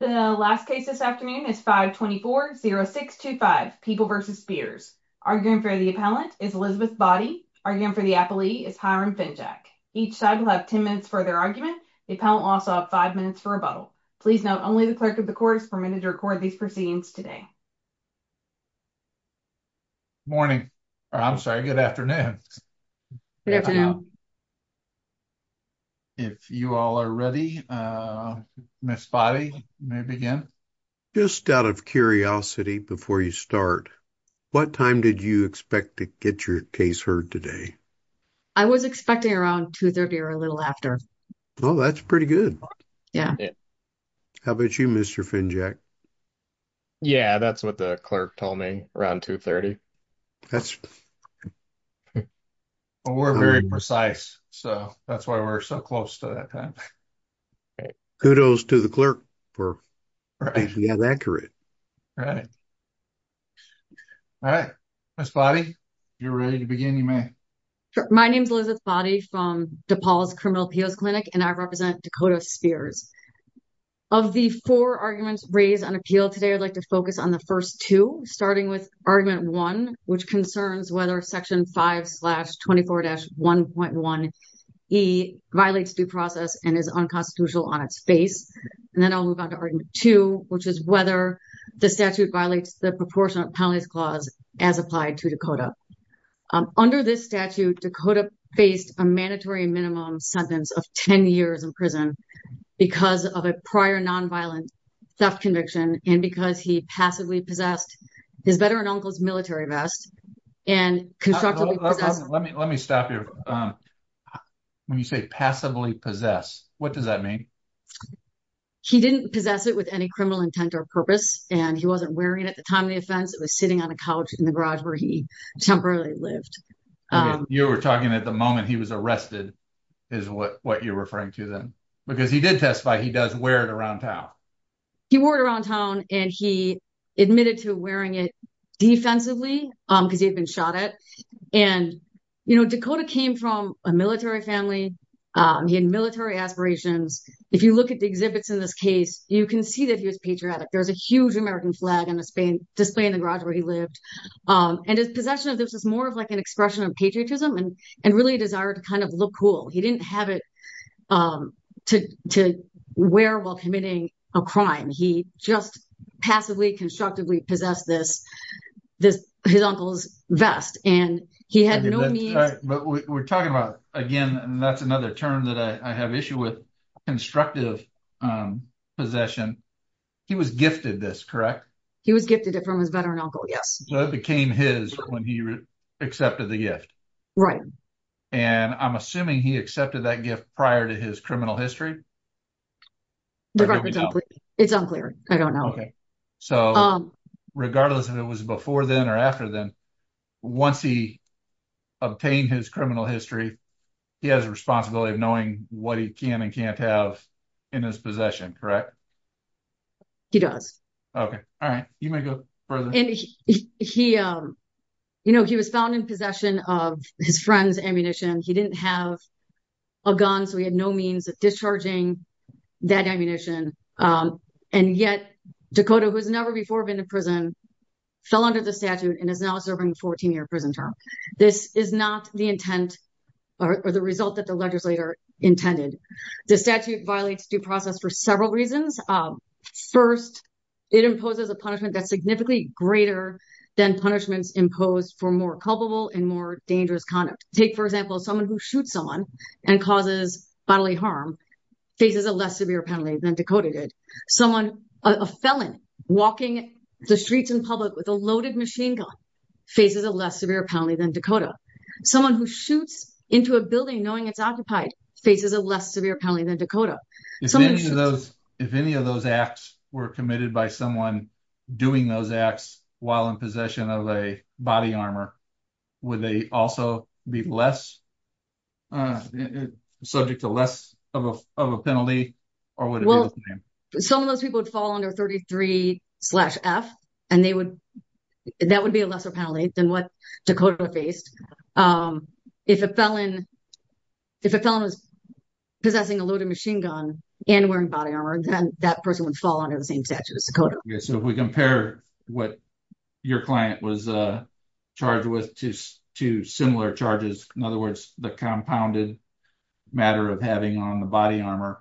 The last case this afternoon is 524-0625, People v. Spears. Arguing for the appellant is Elizabeth Boddy. Arguing for the appellee is Hiram Finjack. Each side will have 10 minutes for their argument. The appellant will also have five minutes for rebuttal. Please note, only the clerk of the court is permitted to record these proceedings today. Morning, I'm sorry, good afternoon. Good afternoon. If you all are ready, Ms. Boddy, you may begin. Just out of curiosity, before you start, what time did you expect to get your case heard today? I was expecting around 2.30 or a little after. Oh, that's pretty good. Yeah. How about you, Mr. Finjack? Yeah, that's what the clerk told me, around 2.30. We're very precise, so that's why we're so close to that time. Kudos to the clerk for getting that correct. All right, Ms. Boddy, you're ready to begin, you may. My name is Elizabeth Boddy from DePaul's Criminal Appeals Clinic, and I represent Dakota Spears. Of the four arguments raised on appeal today, I'd like to focus on the first two, starting with argument one, which concerns whether section 5-24-1.1e violates due process and is unconstitutional on its face. And then I'll move on to argument two, which is whether the statute violates the proportionate penalties clause as applied to Dakota. Under this statute, Dakota faced a mandatory minimum sentence of 10 years in prison because of a prior nonviolent theft conviction, and because he passively possessed his better-uncle's military vest. Let me stop you. When you say passively possess, what does that mean? He didn't possess it with any criminal intent or purpose, and he wasn't wearing it at the time of the offense. It was sitting on a couch in the garage where he temporarily lived. You were talking at the moment he was arrested, is what you're referring to then. He did testify he does wear it around town. He wore it around town, and he admitted to wearing it defensively because he had been shot at. Dakota came from a military family. He had military aspirations. If you look at the exhibits in this case, you can see that he was patriotic. There's a huge American flag on display in the garage where he lived. And his possession of this is more of an expression of patriotism and really a desire to kind of look cool. He didn't have it to wear while committing a crime. He just passively, constructively possessed this, his uncle's vest, and he had no means. But we're talking about, again, and that's another term that I have issue with, constructive possession. He was gifted this, correct? He was gifted it from his better-uncle, yes. So it became his when he accepted the gift. Right. And I'm assuming he accepted that gift prior to his criminal history. It's unclear. I don't know. So regardless if it was before then or after then, once he obtained his criminal history, he has a responsibility of knowing what he can and can't have in his possession, correct? He does. Okay. All right. You may go further. He was found in possession of his friend's ammunition. He didn't have a gun, so he had no means of discharging that ammunition. And yet, Dakota, who has never before been to prison, fell under the statute and is now serving a 14-year prison term. This is not the intent or the result that the legislator intended. The statute violates due process for several reasons. First, it imposes a punishment that's significantly greater than punishments imposed for more culpable and more dangerous conduct. Take, for example, someone who shoots someone and causes bodily harm faces a less severe penalty than Dakota did. A felon walking the streets in public with a loaded machine gun faces a less severe penalty than Dakota. Someone who shoots into a building knowing it's occupied faces a less severe penalty than Dakota. If any of those acts were committed by someone doing those acts while in possession of a body armor, would they also be subject to less of a penalty? Some of those people would fall under 33-F, and that would be a lesser penalty than what Dakota faced. If a felon was possessing a loaded machine gun and wearing body armor, then that person would fall under the same statute as Dakota. Yeah, so if we compare what your client was charged with to similar charges, in other words, the compounded matter of having on the body armor,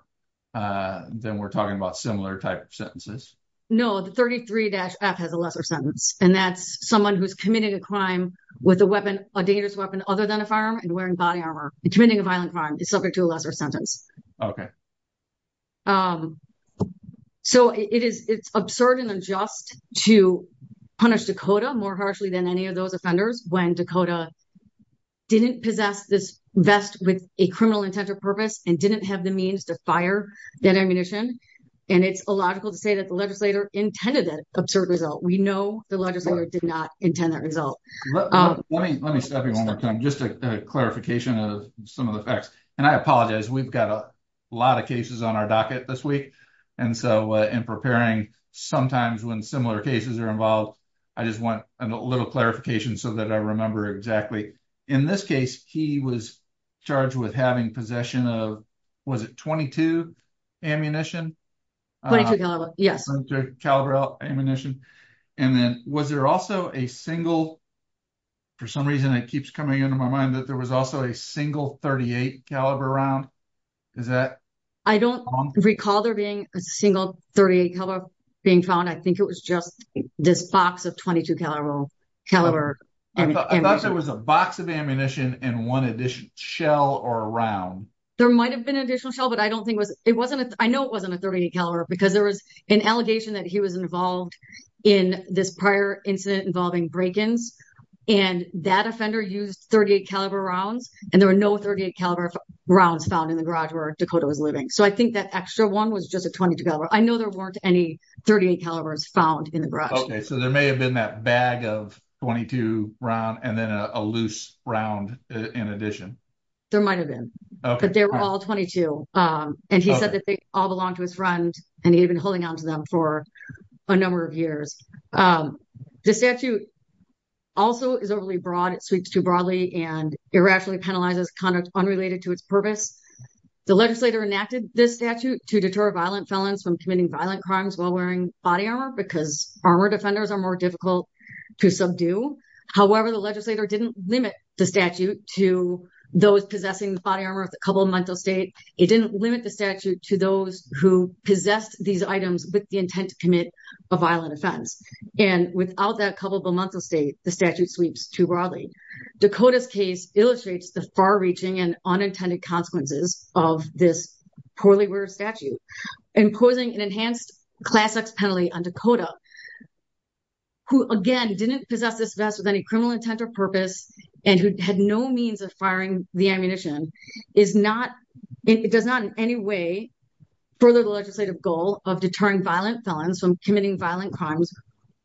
then we're talking about similar type of sentences. No, the 33-F has a lesser sentence, and that's someone who's committed a crime with a weapon other than a firearm and wearing body armor and committing a violent crime is subject to a lesser sentence. So it's absurd and unjust to punish Dakota more harshly than any of those offenders when Dakota didn't possess this vest with a criminal intent or purpose and didn't have the means to fire that ammunition. And it's illogical to say that the legislator intended that absurd result. We know the legislator did not intend that result. Let me stop you one more time, just a clarification of some of the facts. And I apologize, we've got a lot of cases on our docket this week, and so in preparing sometimes when similar cases are involved, I just want a little clarification so that I remember exactly. In this case, he was charged with having possession of, was it .22 ammunition? .22 caliber, yes. .22 caliber ammunition. And then was there also a single, for some reason it keeps coming into my mind that there was also a single .38 caliber round? Is that wrong? I don't recall there being a single .38 caliber being found. I think it was just this box of .22 caliber ammunition. I thought there was a box of ammunition and one additional shell or round. There might have been an additional shell, but I know it wasn't a .38 caliber because there was an allegation that he was involved in this prior incident involving break-ins, and that offender used .38 caliber rounds, and there were no .38 caliber rounds found in the garage where Dakota was living. So I think that extra one was just a .22 caliber. I know there weren't any .38 calibers found in the garage. Okay, so there may have been that bag of .22 round and then a loose round in addition. There might have been, but they were all .22. And he said that they all belonged to his friend, and he had been holding onto them for a number of years. The statute also is overly broad. It sweeps too broadly and irrationally penalizes conduct unrelated to its purpose. The legislator enacted this statute to deter violent felons from committing violent crimes while wearing body armor because armor defenders are more difficult to subdue. However, the legislator didn't limit the statute to those possessing the body armor with a couple of months of state. It didn't limit the statute to those who possessed these items with the intent to commit a violent offense. And without that couple of months of state, the statute sweeps too broadly. Dakota's case illustrates the far-reaching and unintended consequences of this poorly worn statute, imposing an enhanced Class X penalty on Dakota, who, again, didn't possess this vest with any criminal intent or purpose, and who had no means of firing the ammunition. It does not in any way further the legislative goal of deterring violent felons from committing violent crimes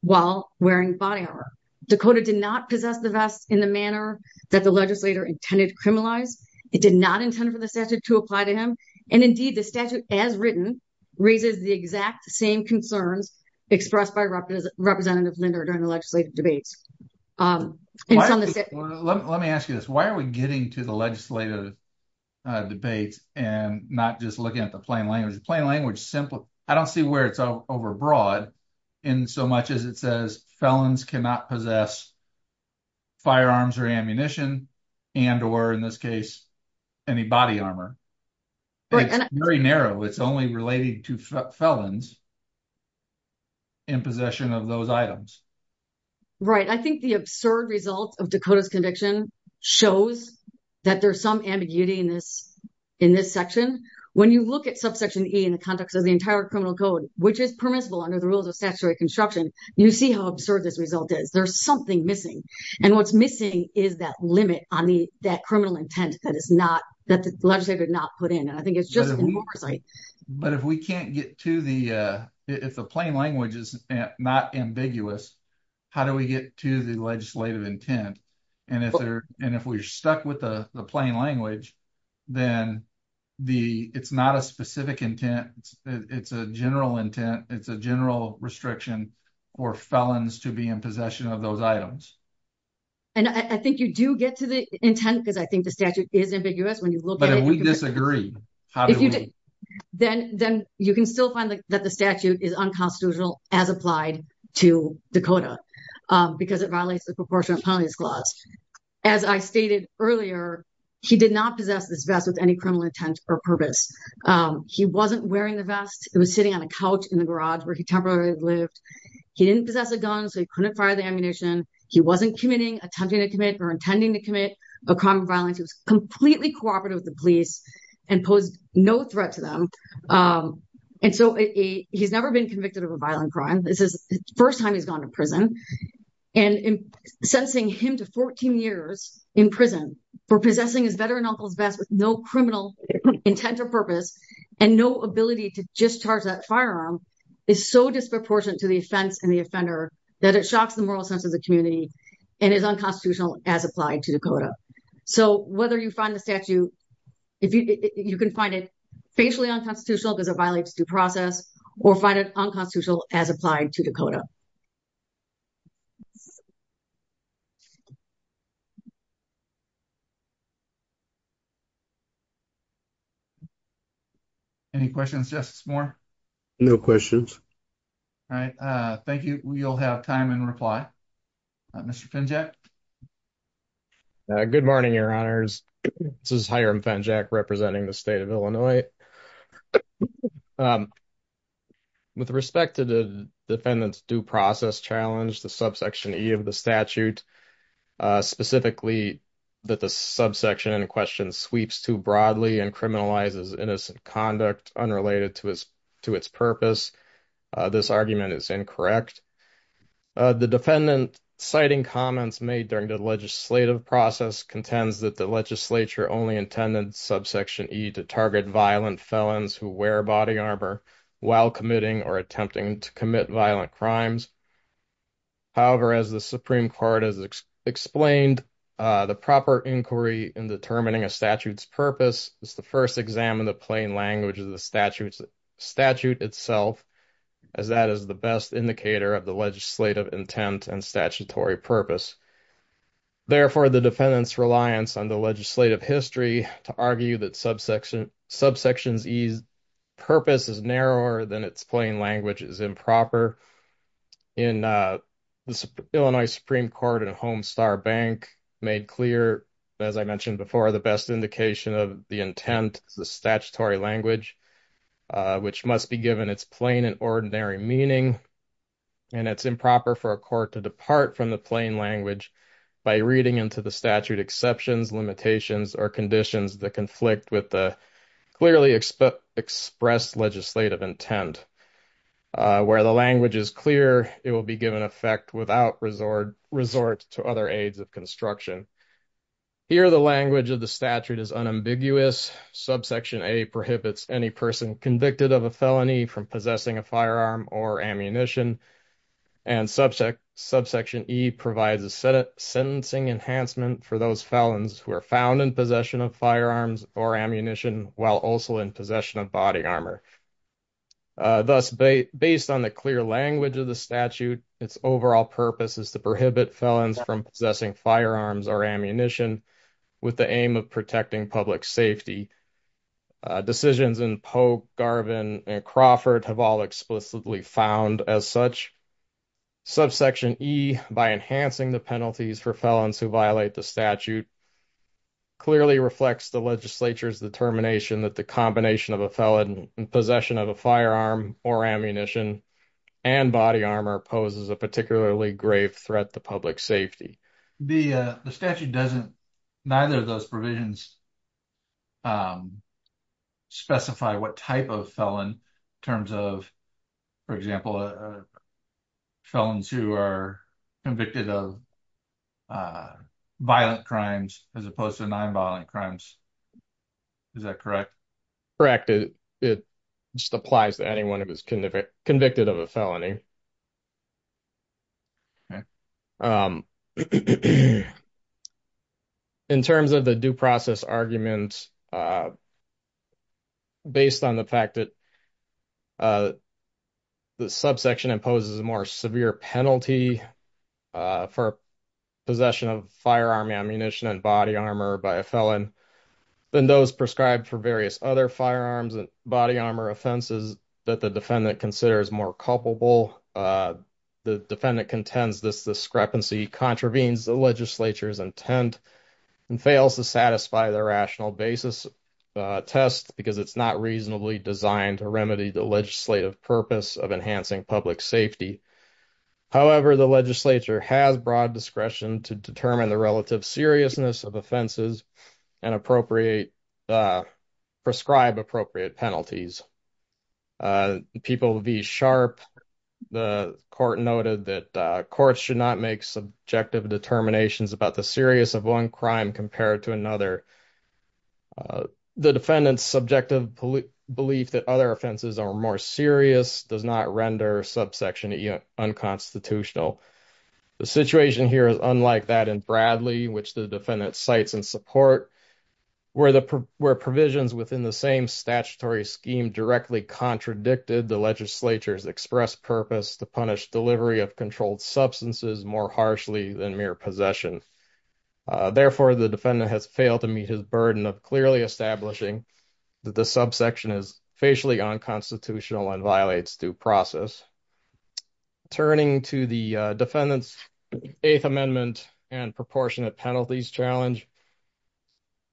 while wearing body armor. Dakota did not possess the vest in the manner that the legislator intended to criminalize. It did not intend for the statute to apply to him. And indeed, the statute, as written, raises the exact same concerns expressed by Representative Linder during the legislative debates. Let me ask you this, why are we getting to the legislative debates and not just looking at the plain language? The plain language, I don't see where it's overbroad in so much as it says felons cannot possess firearms or ammunition and or, in this case, any body armor. It's very narrow. It's only related to felons in possession of those items. Right. I think the absurd result of Dakota's conviction shows that there's some ambiguity in this section. When you look at subsection E in the context of the entire criminal code, which is permissible under the rules of statutory construction, you see how absurd this result is. There's something missing. And what's missing is that limit on that criminal intent that the legislator did not put in. And I think it's just oversight. But if we can't get to the if the plain language is not ambiguous, how do we get to the legislative intent? And if we're stuck with the plain language, then it's not a specific intent. It's a general intent. It's a general restriction for felons to be in possession of those items. And I think you do get to the intent because I think the statute is ambiguous. But if we disagree, then you can still find that the statute is unconstitutional as applied to Dakota because it violates the proportion of penalties clause. As I stated earlier, he did not possess this vest with any criminal intent or purpose. He wasn't wearing the vest. It was sitting on a couch in the garage where he temporarily lived. He didn't possess a gun, so he couldn't fire the ammunition. He wasn't committing, attempting to commit or intending to commit a crime of violence. He was completely cooperative with the police and posed no threat to them. And so he's never been convicted of a violent crime. This is the first time he's gone to prison. And sensing him to 14 years in prison for possessing his veteran uncle's vest with no criminal intent or purpose and no ability to discharge that firearm is so disproportionate to the offense and the offender that it shocks the moral sense of the community and is unconstitutional as applied to Dakota. So whether you find the statute, you can find it facially unconstitutional because it violates due process or find it unconstitutional as applied to Dakota. Any questions, Justice Moore? No questions. All right. Thank you. You'll have time and reply. Mr. Finjack? Good morning, Your Honors. This is Hiram Finjack representing the state of Illinois. With respect to the defendant's due process challenge, the subsection E of the statute, specifically that the subsection in question sweeps too broadly and criminalizes innocent conduct unrelated to its purpose, this argument is incorrect. The defendant citing comments made during the legislative process contends that the legislature only intended subsection E to target violent felons who wear body armor while committing or attempting to commit violent crimes. However, as the Supreme Court has explained, the proper inquiry in determining a statute's purpose is to first examine the plain language of the statute itself, as that is the best indicator of the legislative intent and statutory purpose. Therefore, the defendant's reliance on the legislative history to argue that subsection E's purpose is narrower than its plain language is improper. In the Illinois Supreme Court and Homestar Bank, made clear, as I mentioned before, the best indication of the intent is the statutory language, which must be given its plain and meaning, and it's improper for a court to depart from the plain language by reading into the statute exceptions, limitations, or conditions that conflict with the clearly expressed legislative intent. Where the language is clear, it will be given effect without resort to other aids of construction. Here, the language of the statute is unambiguous. Subsection A prohibits any person convicted of a felony from possessing a firearm or ammunition, and subsection E provides a sentencing enhancement for those felons who are found in possession of firearms or ammunition while also in possession of body armor. Thus, based on the clear language of the statute, its overall purpose is to prohibit felons from possessing firearms or ammunition with the aim of protecting public safety. Decisions in Pogue, Garvin, and Crawford have all explicitly found as such. Subsection E, by enhancing the penalties for felons who violate the statute, clearly reflects the legislature's determination that the combination of a felon in possession of a firearm or ammunition and body armor poses a particularly grave threat to public safety. The statute doesn't, neither of those provisions, specify what type of felon in terms of, for example, felons who are convicted of violent crimes as opposed to non-violent crimes. Is that correct? Correct. It just applies to anyone who is convicted of a felony. In terms of the due process argument, based on the fact that the subsection imposes a more severe penalty for possession of firearm ammunition and body armor by a felon than those prescribed for various other firearms and body armor offenses that the legislature's intent and fails to satisfy the rational basis test because it's not reasonably designed to remedy the legislative purpose of enhancing public safety. However, the legislature has broad discretion to determine the relative seriousness of offenses and prescribe appropriate penalties. People v. Sharpe, the court noted that courts should not make subjective determinations about the seriousness of one crime compared to another. The defendant's subjective belief that other offenses are more serious does not render subsection E unconstitutional. The situation here is unlike that in Bradley, which the defendant cites in support, where provisions within the same statutory scheme directly contradicted the legislature's express purpose to punish delivery of controlled substances more harshly than mere possession. Therefore, the defendant has failed to meet his burden of clearly establishing that the subsection is facially unconstitutional and violates due process. Turning to the defendant's Eighth Amendment and proportionate penalties challenge,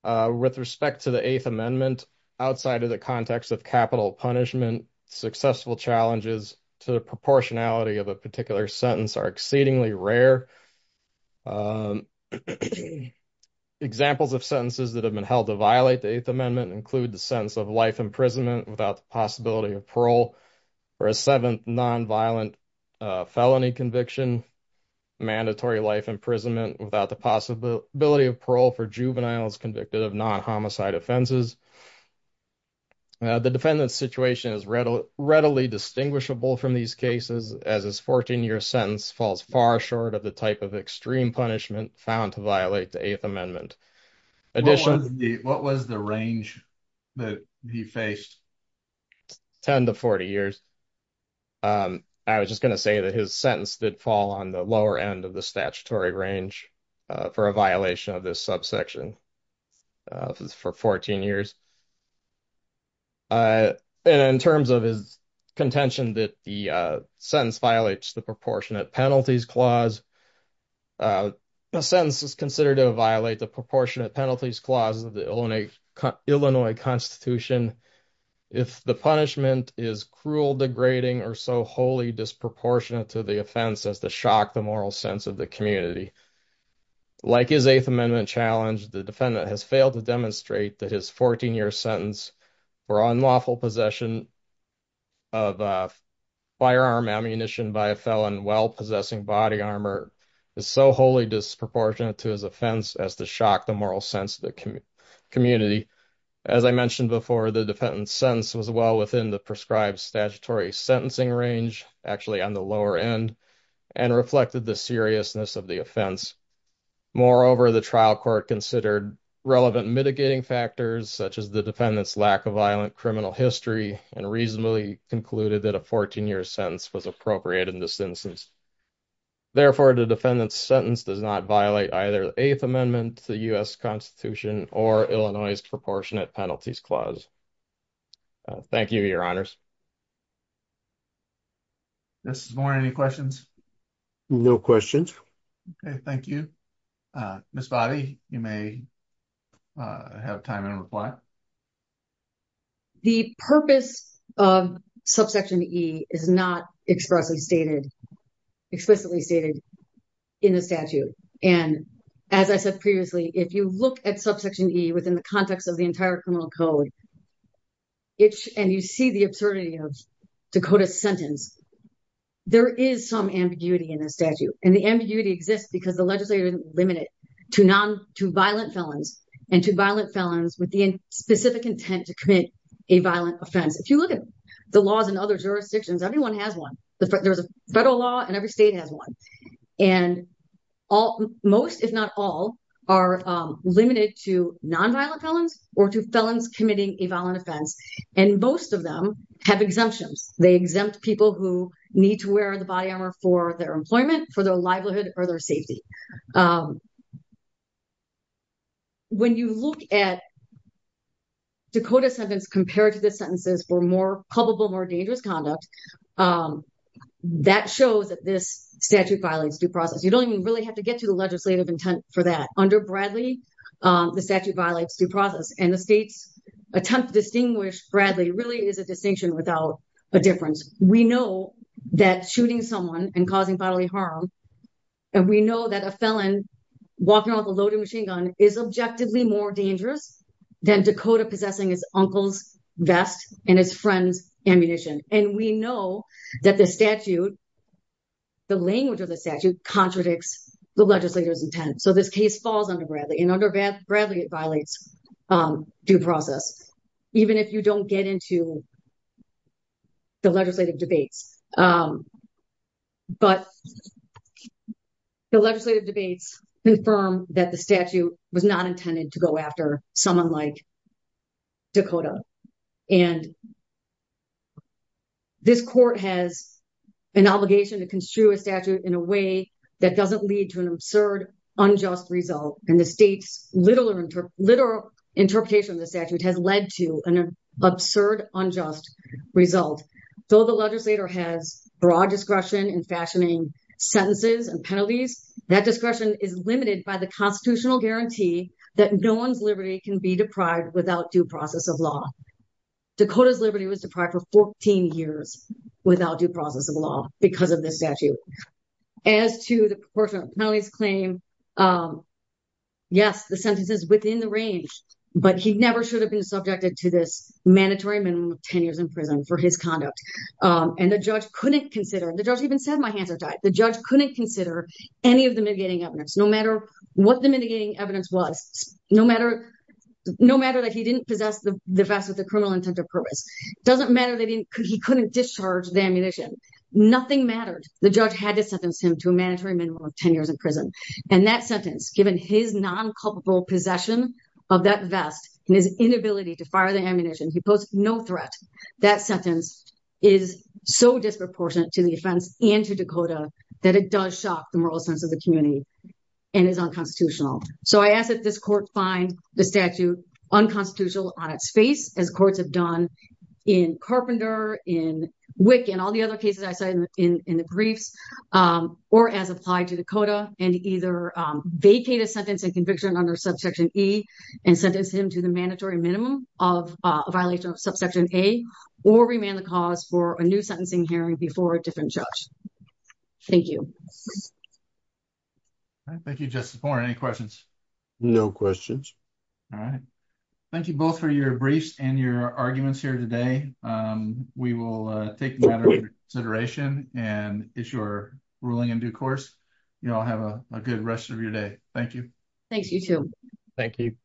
with respect to the Eighth Amendment, outside of the context of capital punishment, successful challenges to the proportionality of a particular sentence are exceedingly rare. Examples of sentences that have been held to violate the Eighth Amendment include the sentence of life imprisonment without the possibility of parole for a seventh non-violent felony conviction, mandatory life imprisonment without the possibility of parole for juveniles convicted of non-homicide offenses. The defendant's situation is readily distinguishable from these cases, as his 14-year sentence falls far short of the type of extreme punishment found to violate the Eighth Amendment. I was just going to say that his sentence did fall on the lower end of the statutory range for a violation of this subsection for 14 years. In terms of his contention that the sentence violates the proportionate penalties clause, a sentence is considered to violate the proportionate penalties clause of the Illinois Constitution if the punishment is cruel, degrading, or so wholly disproportionate to the offense as to shock the moral sense of the community. Like his Eighth Amendment challenge, the defendant has failed to demonstrate that his 14-year sentence for unlawful possession of firearm ammunition by a felon while possessing body armor is so wholly disproportionate to his offense as to shock the moral sense of the community. As I mentioned before, the defendant's sentence was well within the prescribed statutory sentencing range, actually on the lower end, and reflected the seriousness of the offense. Moreover, the trial court considered relevant mitigating factors such as the defendant's lack of violent criminal history and reasonably concluded that a 14-year sentence was appropriate in this instance. Therefore, the defendant's sentence does not violate either the Eighth Amendment to the U.S. Constitution or Illinois's proportionate penalties clause. Thank you, your honors. Mr. Zborn, any questions? No questions. Okay, thank you. Ms. Bobby, you may have time to reply. The purpose of subsection E is not explicitly stated in the statute, and as I said previously, if you look at subsection E within the context of the entire criminal code, and you see the absurdity of Dakota's sentence, there is some ambiguity in the statute. And the ambiguity exists because the legislature limited it to violent felons and to violent felons with the specific intent to commit a violent offense. If you look at the laws in other jurisdictions, everyone has one. There's a federal law and every state has one. And most, if not all, are limited to non-violent felons or to felons committing a violent offense. And most of them have exemptions. They exempt people who need to wear the body armor for their employment, for their livelihood, or their safety. When you look at Dakota's sentence compared to the sentences for more culpable, more dangerous conduct, that shows that this statute violates due process. You don't even really have to get to the legislative intent for that. Under Bradley, the statute violates due process. And the state's attempt to distinguish Bradley really is a distinction without a difference. We know that shooting someone and causing bodily harm, and we know that a felon walking around with a loaded machine gun is objectively more dangerous than Dakota possessing his uncle's vest and his friend's ammunition. And we know that the statute, the language of the statute, contradicts the legislator's intent. So this case falls under Bradley. And under Bradley, it violates due process, even if you don't get into the legislative debates. But the legislative debates confirm that the statute was not intended to go after someone like Dakota. And this court has an obligation to construe a statute in a way that doesn't lead to an absurd, unjust result. And the state's literal interpretation of the statute has led to an absurd, unjust result. Though the legislator has broad discretion in fashioning sentences and penalties, that discretion is limited by the constitutional guarantee that no one's liberty can be deprived without due process of law. Dakota's liberty was deprived for 14 years without due process of law because of this statute. As to the proportion of penalties claimed, yes, the sentence is within the range, but he never should have been subjected to this mandatory minimum of 10 years in prison for his conduct. And the judge couldn't consider, the judge even said, my hands are tied. The judge couldn't consider any of the mitigating evidence, no matter what the mitigating evidence was, no matter that he didn't possess the vest with the criminal intent of purpose. Doesn't matter that he couldn't discharge the ammunition. Nothing mattered. The judge had to sentence him to a mandatory minimum of 10 years in prison. And that sentence, given his non-culpable possession of that vest and his inability to fire the ammunition, he posed no threat. That sentence is so disproportionate to the offense and to Dakota that it does shock the moral sense of the community and is unconstitutional. So I ask that this court find the statute unconstitutional on its face, as courts have done in Carpenter, in Wick, and all the other cases I cited in the briefs, or as applied to Dakota, and either vacate a sentence and conviction under Subsection E and sentence him to the mandatory minimum of a violation of Subsection A, or remand the cause for a new sentencing hearing before a different judge. Thank you. All right. Thank you, Justice Boren. Any questions? No questions. All right. Thank you both for your briefs and your arguments here today. We will take them out of consideration and it's your ruling in due course. You all have a good rest of your day. Thank you. Thanks, you too. Thank you.